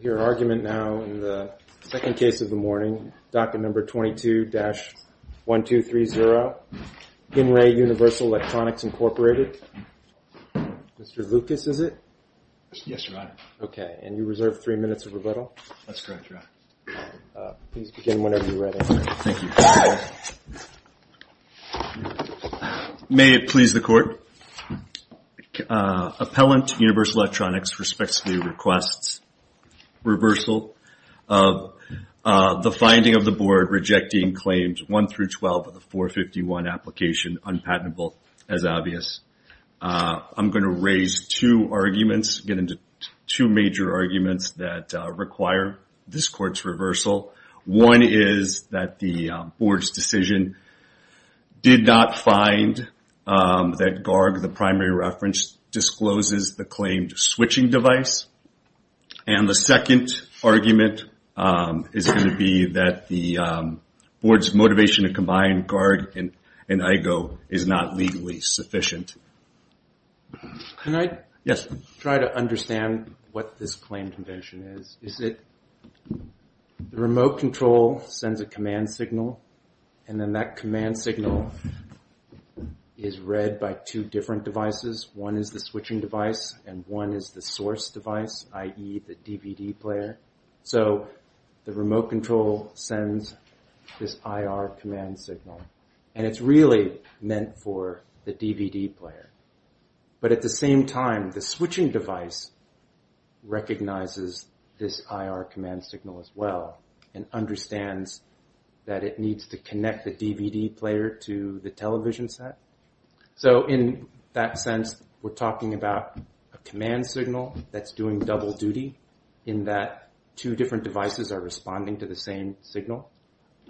Your argument now in the second case of the morning, docket number 22-1230, Henry Universal Electronics, Incorporated. Mr. Lucas, is it? Yes, your honor. Okay, and you reserve three minutes of rebuttal. That's correct, your honor. Please begin whenever you're ready. Thank you. May it please the court. Appellant, Universal Electronics, respects the request's reversal of the finding of the board rejecting claims 1-12 of the 451 application, unpatentable, as obvious. I'm going to raise two arguments, get into two major arguments that require this court's reversal. One is that the board's decision did not find that GARG, the primary reference, discloses the claimed switching device. And the second argument is going to be that the board's motivation to combine GARG and IGO is not legally sufficient. Can I try to understand what this claim convention is? Is it the remote control sends a command signal and then that command signal is read by two different devices? One is the switching device and one is the source device, i.e., the DVD player. So the remote control sends this IR command signal and it's really meant for the DVD player. But at the same time, the switching device recognizes this IR command signal as well and understands that it needs to connect the DVD player to the television set. So in that sense, we're talking about a command signal that's doing double duty in that two different devices are responding to the same signal?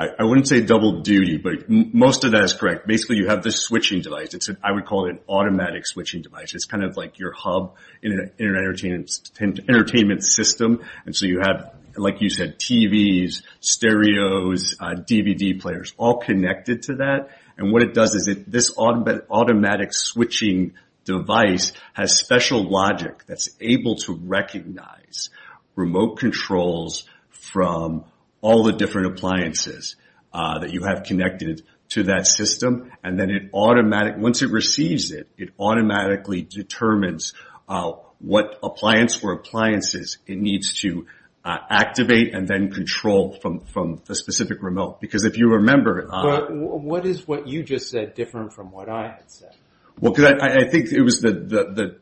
I wouldn't say double duty, but most of that is correct. Basically, you have this switching device. I would call it an automatic switching device. It's kind of like your hub in an entertainment system. And so you have, like you said, TVs, stereos, DVD players, all connected to that. And what it does is this automatic switching device has special logic that's able to recognize remote controls from all the different appliances that you have connected to that system. And then once it receives it, it automatically determines what appliance or appliances it needs to activate and then control from the specific remote. Because if you remember... But what is what you just said different from what I had said? Well, because I think it was the...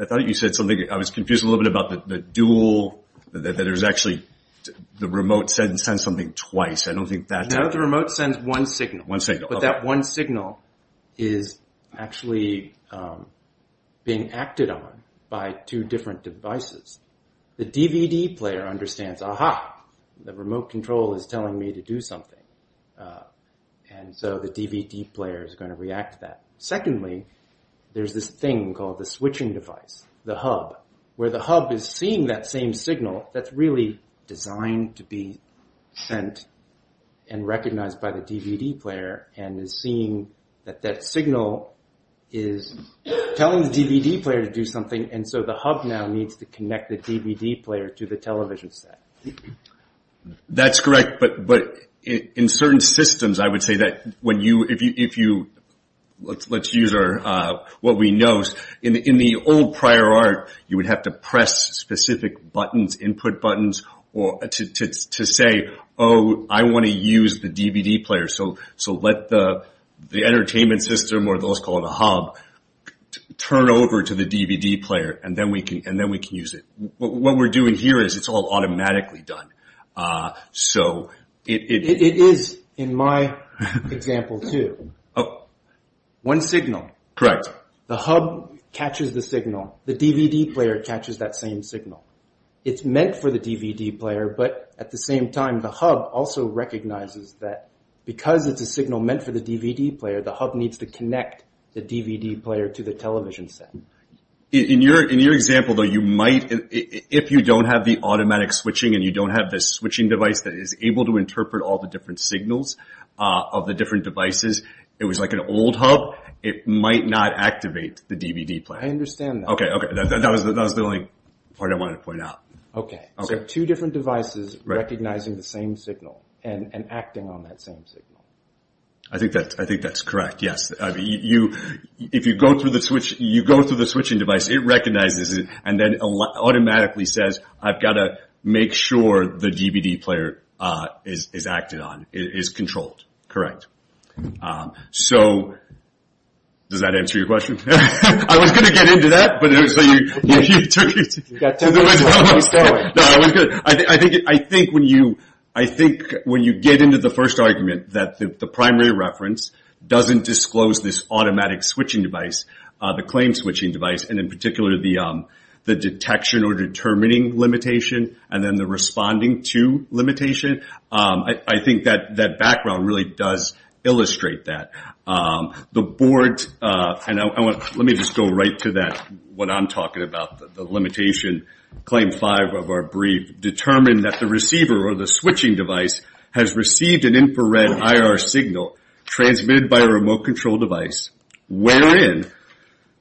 I thought you said something... I was confused a little bit about the dual, that there's actually... The remote sends something twice. I don't think that... No, the remote sends one signal. One signal. But that one signal is actually being acted on by two different devices. The DVD player understands, aha, the remote control is telling me to do something. And so the DVD player is going to react to that. Secondly, there's this thing called the switching device, the hub, where the hub is seeing that same signal that's really designed to be sent and recognized by the DVD player and is seeing that that signal is telling the DVD player to do something. And so the hub now needs to connect the DVD player to the television set. That's correct. But in certain systems, I would say that when you... Let's use what we know. In the old prior art, you would have to press specific buttons, input buttons to say, oh, I want to use the DVD player. So let the entertainment system, or those called the hub, turn over to the DVD player and then we can use it. What we're doing here is it's all automatically done. So it... One signal. Correct. The hub catches the signal. The DVD player catches that same signal. It's meant for the DVD player, but at the same time, the hub also recognizes that because it's a signal meant for the DVD player, the hub needs to connect the DVD player to the television set. In your example, though, you might, if you don't have the automatic switching and you don't have this switching device that is able to interpret all the different signals of the different devices, it was like an old hub, it might not activate the DVD player. I understand that. Okay, okay. That was the only part I wanted to point out. Okay. So two different devices recognizing the same signal and acting on that same signal. I think that's correct, yes. If you go through the switching device, it recognizes it and then automatically says, I've got to make sure the DVD player is acted on, is controlled. Correct. So, does that answer your question? I was going to get into that, but so you took it to the west coast. No, it was good. I think when you get into the first argument that the primary reference doesn't disclose this automatic switching device, the claim switching device, and in particular the detection or determining limitation, and then the responding to limitation, I think that background really does illustrate that. The board, and let me just go right to that, what I'm talking about, the limitation. Claim five of our brief, determine that the receiver or the switching device has received an infrared IR signal transmitted by a remote control device, wherein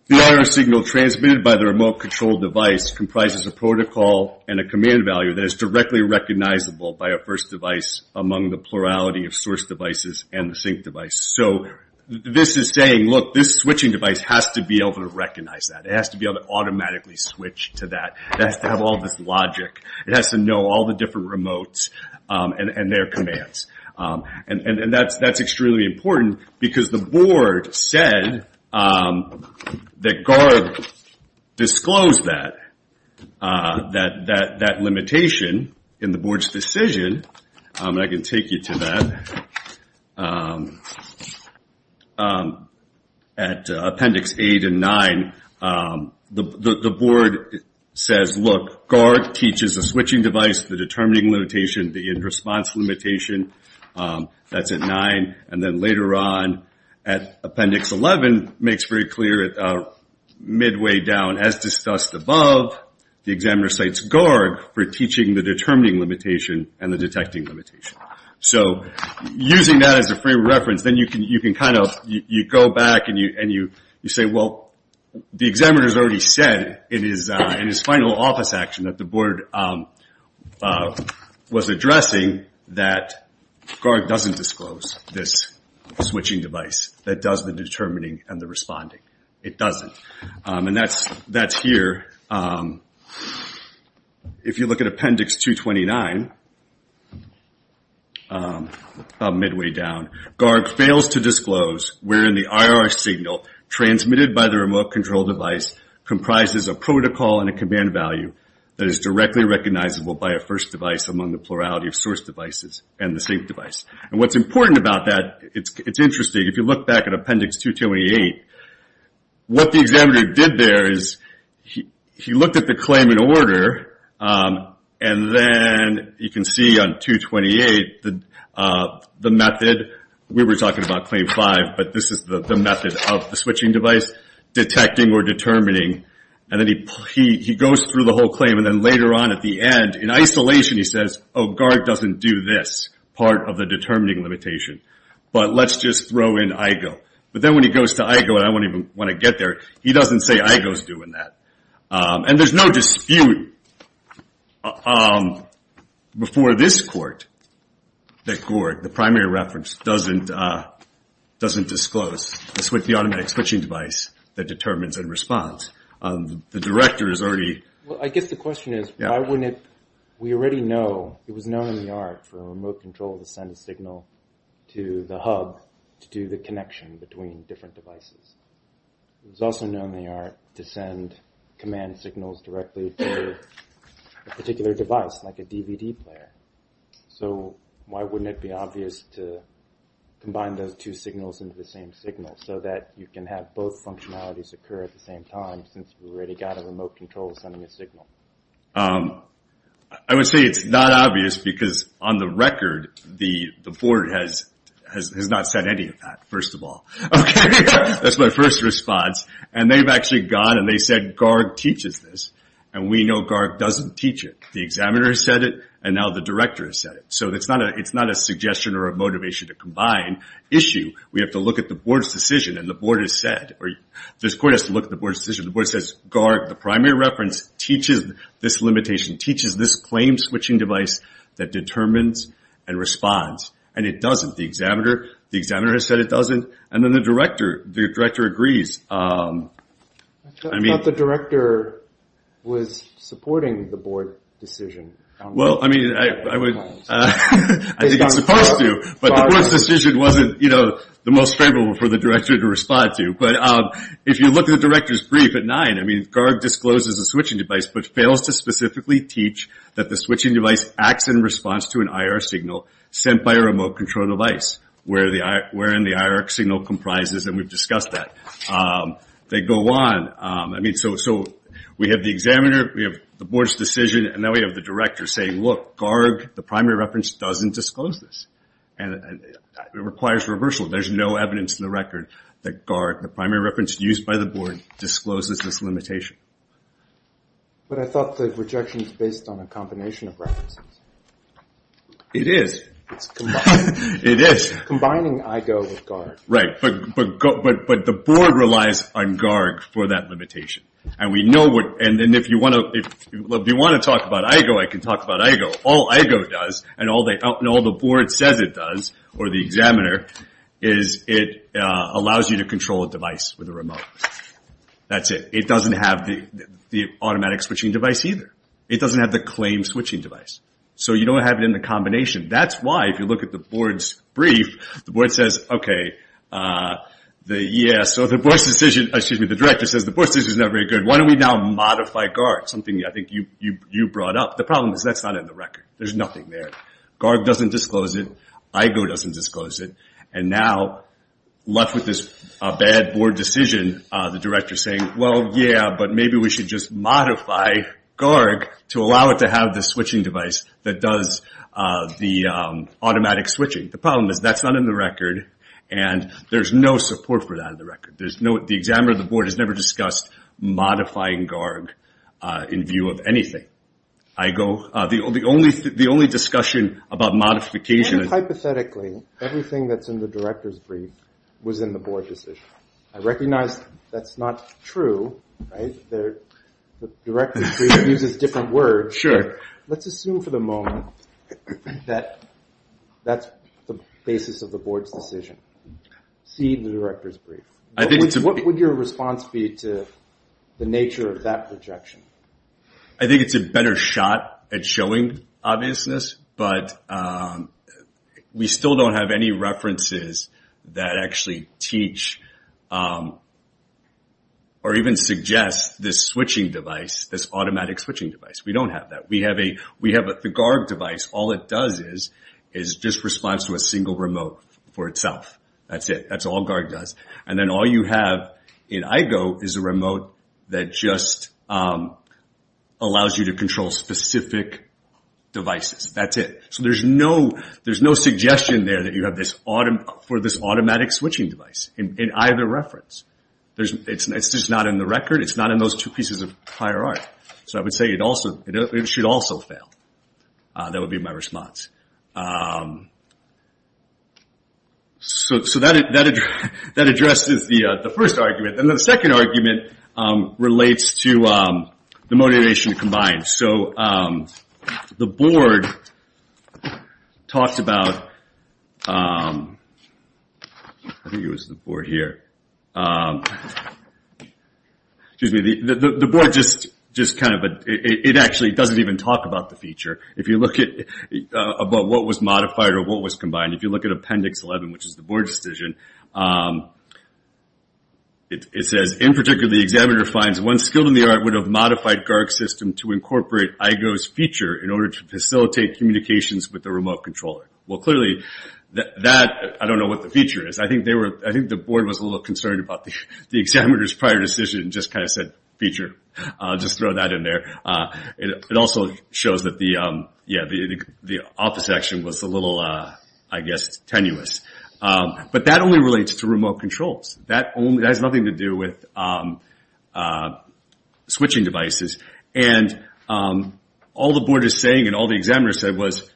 the IR signal transmitted by the remote control device comprises a protocol and a command value that is directly recognizable by a first device among the plurality of source devices and the sync device. So, this is saying, look, this switching device has to be able to recognize that, it has to be able to automatically switch to that, it has to have all this logic, it has to know all the different remotes and their commands. That's extremely important because the board said that GARB disclosed that, that limitation in the board's decision, and I can take you to that, at appendix eight and nine, the board says, look, GARB teaches the switching device, the determining limitation, the response limitation, that's at nine, and then later on, at appendix 11, makes very clear, midway down, as discussed above, the examiner cites GARB for teaching the determining limitation and the detecting limitation. So, using that as a frame of reference, then you can kind of, you go back and you say, well, the examiner's already said in his final office action that the board was addressing that GARB doesn't disclose this switching device that does the determining and the responding. It doesn't. And that's here. If you look at appendix 229, about midway down, GARB fails to disclose, wherein the IR signal transmitted by the remote control device comprises a protocol and a command value that is directly recognizable by a first device among the plurality of source devices and the sync device. And what's important about that, it's interesting, if you look back at appendix 228, what the examiner did there is he looked at the claim in order, and then, you can see on 228, the method, we were talking about claim five, but this is the method of the switching device, detecting or determining, and then he goes through the whole claim, and then later on at the end, in isolation, he says, oh, GARB doesn't do this, part of the determining limitation, but let's just throw in IGO. But then when he goes to IGO, and I don't even want to get there, he doesn't say IGO's doing that. And there's no dispute before this court that GOURD, the primary reference, doesn't disclose the automatic switching device that determines and responds. The director is already... Well, I guess the question is, why wouldn't, we already know, it was known in the art for devices. It was also known in the art to send command signals directly to a particular device, like a DVD player. So why wouldn't it be obvious to combine those two signals into the same signal, so that you can have both functionalities occur at the same time, since we already got a remote control sending a signal? I would say it's not obvious, because on the record, the board has not said any of that, first of all. Okay? That's my first response. And they've actually gone and they've said GOURD teaches this, and we know GOURD doesn't teach it. The examiner has said it, and now the director has said it. So it's not a suggestion or a motivation to combine issue. We have to look at the board's decision, and the board has said, or this court has to look at the board's decision. The board says, GOURD, the primary reference, teaches this limitation, teaches this claim switching device that determines and responds. And it doesn't. The examiner has said it doesn't, and then the director agrees. I thought the director was supporting the board decision on GOURD. Well, I mean, I think it's supposed to, but the board's decision wasn't, you know, the most favorable for the director to respond to. But if you look at the director's brief at 9, I mean, GOURD discloses the switching device, but fails to specifically teach that the switching device acts in response to an IR signal sent by a remote control device, wherein the IR signal comprises, and we've discussed that. They go on. I mean, so we have the examiner, we have the board's decision, and now we have the director saying, look, GOURD, the primary reference, doesn't disclose this, and it requires reversal. There's no evidence in the record that GOURD, the primary reference used by the board, discloses this limitation. But I thought the rejection is based on a combination of references. It is. It's combining IGO with GOURD. Right, but the board relies on GOURD for that limitation. And we know what, and if you want to talk about IGO, I can talk about IGO. All IGO does, and all the board says it does, or the examiner, is it allows you to control a device with a remote. That's it. It doesn't have the automatic switching device either. It doesn't have the claim switching device. So, you don't have it in the combination. That's why, if you look at the board's brief, the board says, okay, yeah, so the board's decision, excuse me, the director says, the board's decision's not very good. Why don't we now modify GOURD? Something I think you brought up. The problem is that's not in the record. There's nothing there. GOURD doesn't disclose it. IGO doesn't disclose it. And now, left with this bad board decision, the director's saying, well, yeah, but maybe we should just modify GOURD to allow it to have the switching device that does the automatic switching. The problem is that's not in the record, and there's no support for that in the record. The examiner of the board has never discussed modifying GOURD in view of anything. The only discussion about modification is... And hypothetically, everything that's in the director's brief was in the board decision. I recognize that's not true. The director's brief uses different words. Sure. Let's assume for the moment that that's the basis of the board's decision. See the director's brief. What would your response be to the nature of that projection? I think it's a better shot at showing obviousness, but we still don't have any references that actually teach or even suggest this switching device, this automatic switching device. We don't have that. We have the GOURD device. All it does is just responds to a single remote for itself. That's it. That's all GOURD does. And then all you have in IGO is a remote that just allows you to control specific devices. That's it. There's no suggestion there for this automatic switching device in either reference. It's just not in the record. It's not in those two pieces of prior art. I would say it should also fail. That would be my response. That addresses the first argument. The second argument relates to the motivation combined. The board talks about... I think it was the board here. The board doesn't even talk about the feature. If you look at what was modified or what was combined. If you look at appendix 11, which is the board decision, it says, In particular, the examiner finds one skill in the art would have modified GOURD's system to incorporate IGO's feature in order to facilitate communications with the remote controller. Well, clearly, I don't know what the feature is. I think the board was a little concerned about the examiner's prior decision and just kind of said feature. Just throw that in there. It also shows that the office action was a little, I guess, tenuous. But that only relates to remote controls. That has nothing to do with switching devices. And all the board is saying and all the examiner said was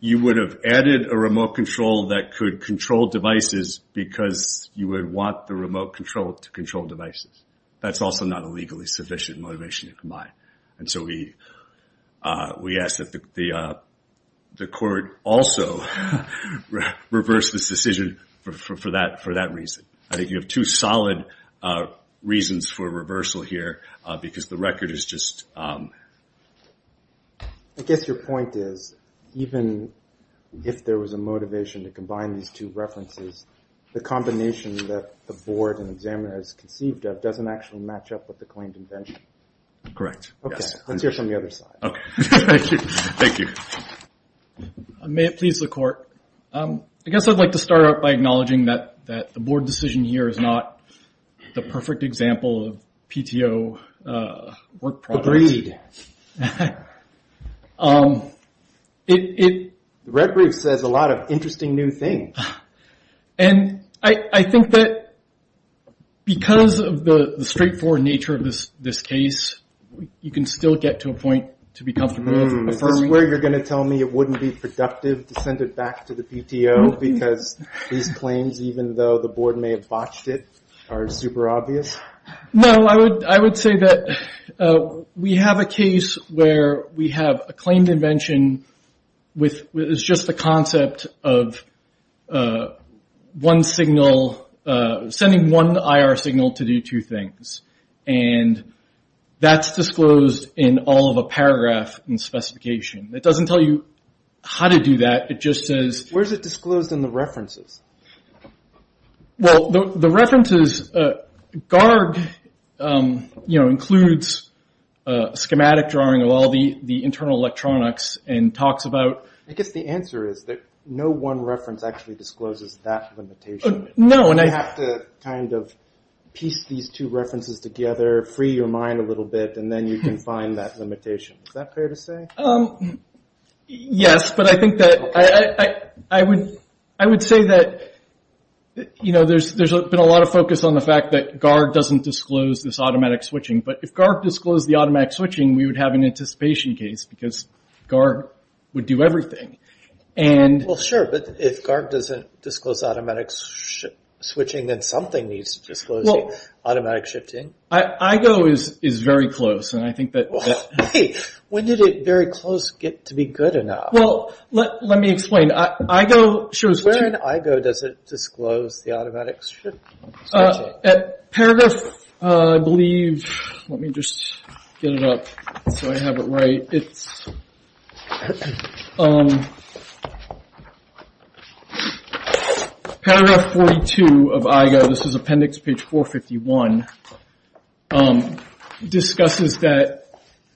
you would have added a remote control that could control devices because you would want the remote control to control devices. That's also not a legally sufficient motivation to combine. And so we ask that the court also reverse this decision for that reason. I think you have two solid reasons for reversal here because the record is just... I guess your point is even if there was a motivation to combine these two references, the combination that the board and examiner has conceived of doesn't actually match up with the claimed invention. Correct. Let's hear from the other side. Thank you. May it please the court. I guess I'd like to start out by acknowledging that the board decision here is not the perfect example of PTO work product. Agreed. The red brief says a lot of interesting new things. And I think that because of the straightforward nature of this case, you can still get to a point to be comfortable with. Is this where you're going to tell me it wouldn't be productive to send it back to the PTO because these claims, even though the board may have botched it, are super obvious? No, I would say that we have a case where we have a claimed invention with just the concept of one signal, sending one IR signal to do two things. And that's disclosed in all of the paragraph and specification. It doesn't tell you how to do that. It just says- Where is it disclosed in the references? Well, the references, GARG includes a schematic drawing of all the internal electronics and talks about- I guess the answer is that no one reference actually discloses that limitation. No. You have to piece these two references together, free your mind a little bit, and then you can find that limitation. Is that fair to say? Yes, but I think that I would say that there's been a lot of focus on the fact that GARG doesn't disclose this automatic switching. But if GARG disclosed the automatic switching, we would have an anticipation case because GARG would do everything. Well, sure, but if GARG doesn't disclose automatic switching, then something needs to disclose the automatic shifting. IGO is very close, and I think that- Hey, when did it very close get to be good enough? Well, let me explain. IGO shows where- In IGO, does it disclose the automatic switching? At paragraph, I believe, let me just get it up so I have it right. Paragraph 42 of IGO, this is appendix page 451, discusses that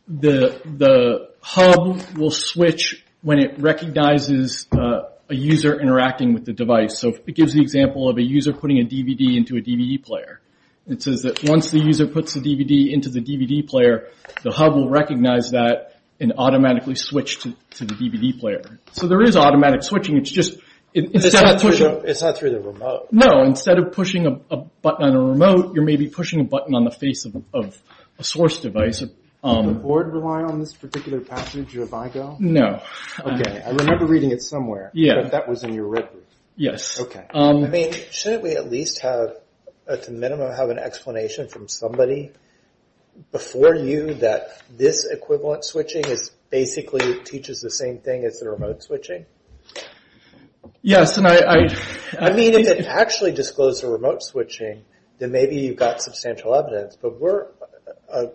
the hub will switch when it recognizes a user interacting with the device. So it gives the example of a user putting a DVD into a DVD player. It says that once the user puts the DVD into the DVD player, the hub will recognize that and automatically switch to the DVD player. So there is automatic switching, it's just- It's not through the remote. No, instead of pushing a button on a remote, you're maybe pushing a button on the face of a source device. Did the board rely on this particular passage of IGO? No. Okay, I remember reading it somewhere. Yeah. That was in your red book. Yes. Okay. Shouldn't we at least have, at the minimum, have an explanation from somebody before you that this equivalent switching basically teaches the same thing as the remote switching? Yes, and I- I mean, if it actually disclosed the remote switching, then maybe you've got substantial evidence, but we're a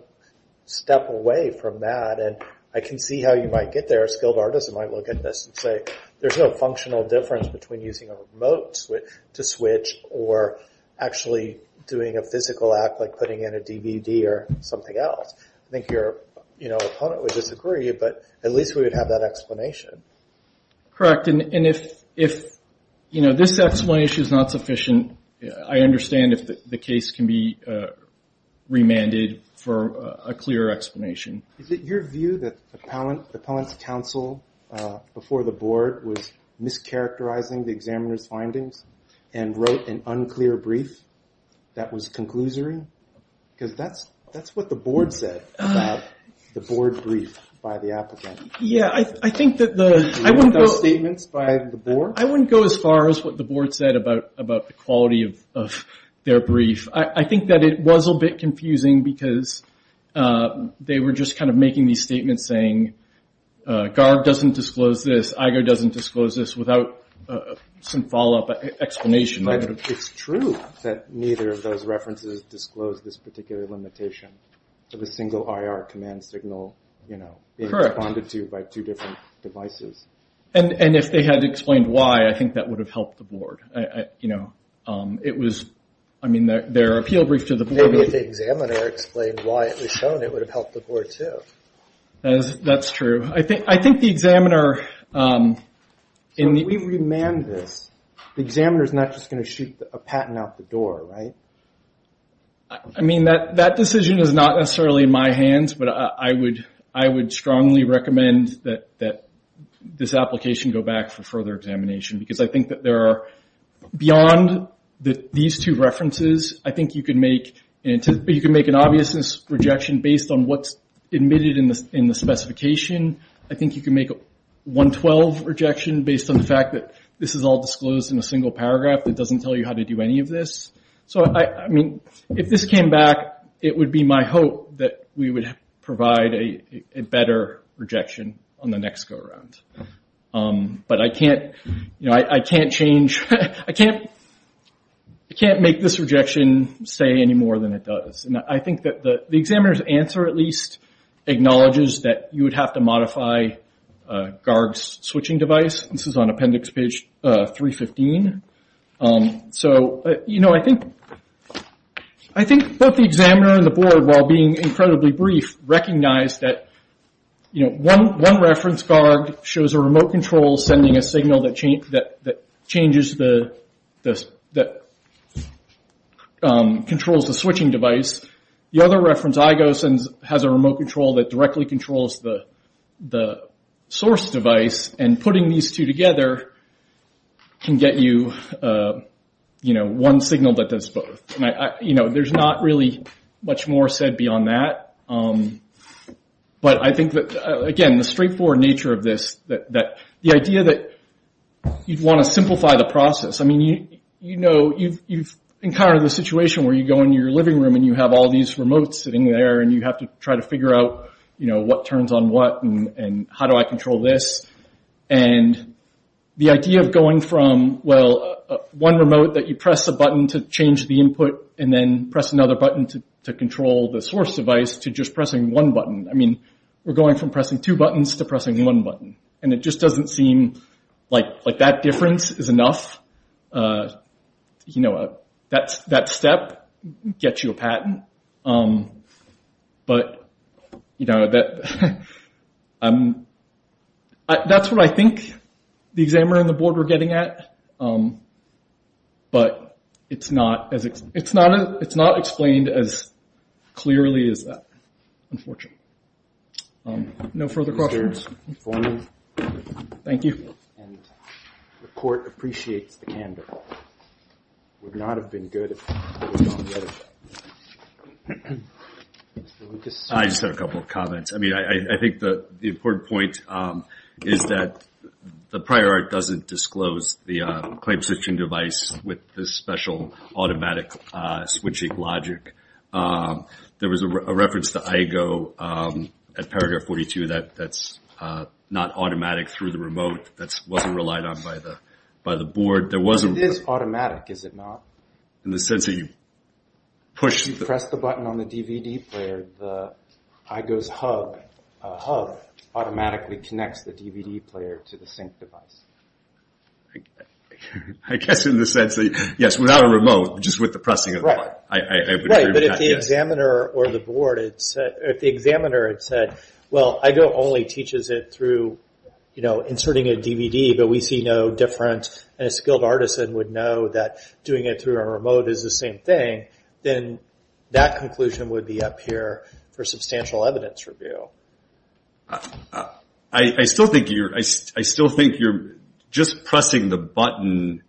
step away from that. I can see how you might get there, a skilled artist might look at this and say, there's no functional difference between using a remote to switch or actually doing a physical act like putting in a DVD or something else. I think your opponent would disagree, but at least we would have that explanation. Correct, and if this explanation is not sufficient, I understand if the case can be remanded for a clearer explanation. Is it your view that the appellant's counsel before the board was mischaracterizing the examiner's findings and wrote an unclear brief that was conclusory? Because that's what the board said about the board brief by the applicant. Yeah, I think that the- The statements by the board? I wouldn't go as far as what the board said about the quality of their brief. I think that it was a bit confusing because they were just kind of making these statements saying, GARB doesn't disclose this, IGO doesn't disclose this, without some follow-up explanation. It's true that neither of those references disclose this particular limitation of a single IR command signal being responded to by two different devices. And if they had explained why, I think that would have helped the board. I mean, their appeal brief to the board- Maybe if the examiner explained why it was shown, it would have helped the board, too. That's true. I think the examiner- So if we remand this, the examiner's not just going to shoot a patent out the door, right? I mean, that decision is not necessarily in my hands, but I would strongly recommend that this application go back for further examination. Because I think that there are, beyond these two references, I think you can make an obvious rejection based on what's admitted in the specification. I think you can make a 112 rejection based on the fact that this is all disclosed in a single paragraph that doesn't tell you how to do any of this. So, I mean, if this came back, it would be my hope that we would provide a better rejection on the next go-around. But I can't make this rejection say any more than it does. I think that the examiner's answer, at least, acknowledges that you would have to modify Garg's switching device. This is on appendix page 315. I think both the examiner and the board, while being incredibly brief, recognize that one reference, Garg, shows a remote control sending a signal that controls the switching device. The other reference, Igo, has a remote control that directly controls the source device. And putting these two together can get you one signal that does both. There's not really much more said beyond that. But I think that, again, the straightforward nature of this, the idea that you'd want to simplify the process. I mean, you know, you've encountered the situation where you go into your living room and you have all these remotes sitting there. And you have to try to figure out, you know, what turns on what and how do I control this. And the idea of going from, well, one remote that you press a button to change the input and then press another button to control the source device to just pressing one button. I mean, we're going from pressing two buttons to pressing one button. And it just doesn't seem like that difference is enough. You know, that step gets you a patent. But, you know, that's what I think the examiner and the board are getting at. But it's not explained as clearly as that, unfortunately. No further questions? Thank you. And the court appreciates the candor. It would not have been good if it was done the other way. I just have a couple of comments. I mean, I think the important point is that the prior art doesn't disclose the claim switching device with this special automatic switching logic. There was a reference to iGo at paragraph 42 that's not automatic through the remote. That wasn't relied on by the board. It is automatic, is it not? In the sense that you push the button on the DVD player, the iGo's hub automatically connects the DVD player to the sync device. I guess in the sense that, yes, without a remote, just with the pressing of a button. Right, but if the examiner or the board had said, well, iGo only teaches it through, you know, inserting a DVD, but we see no different and a skilled artisan would know that doing it through a remote is the same thing, then that conclusion would be up here for substantial evidence review. I still think you're just pressing the button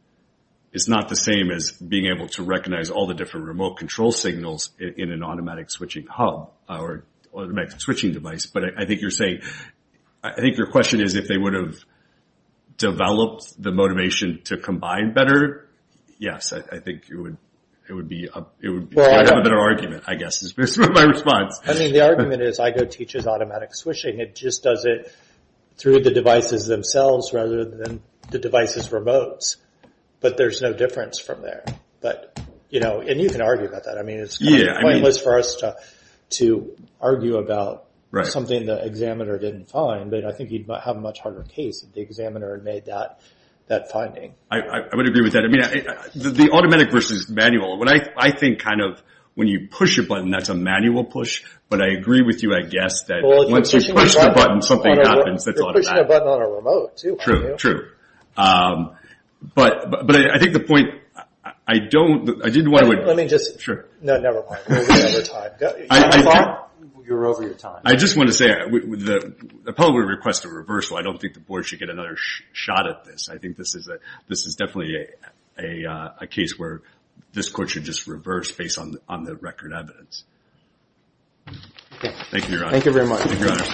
is not the same as being able to recognize all the different remote control signals in an automatic switching hub or automatic switching device. But I think you're saying, I think your question is if they would have developed the motivation to combine better. Yes, I think it would be a better argument, I guess, is my response. I mean, the argument is iGo teaches automatic switching. It just does it through the devices themselves rather than the devices' remotes. But there's no difference from there. But, you know, and you can argue about that. I mean, it's kind of pointless for us to argue about something the examiner didn't find. But I think you'd have a much harder case if the examiner had made that finding. I would agree with that. I mean, the automatic versus manual. I think kind of when you push a button, that's a manual push. But I agree with you, I guess, that once you push the button, something happens that's automatic. You're pushing a button on a remote, too, aren't you? True, true. But I think the point, I don't, I didn't want to. Let me just. Sure. No, never mind. You're over your time. I just want to say, I probably would request a reversal. I don't think the board should get another shot at this. I think this is definitely a case where this court should just reverse based on the record evidence. Thank you, Your Honor. Thank you very much. Thank you, Your Honor.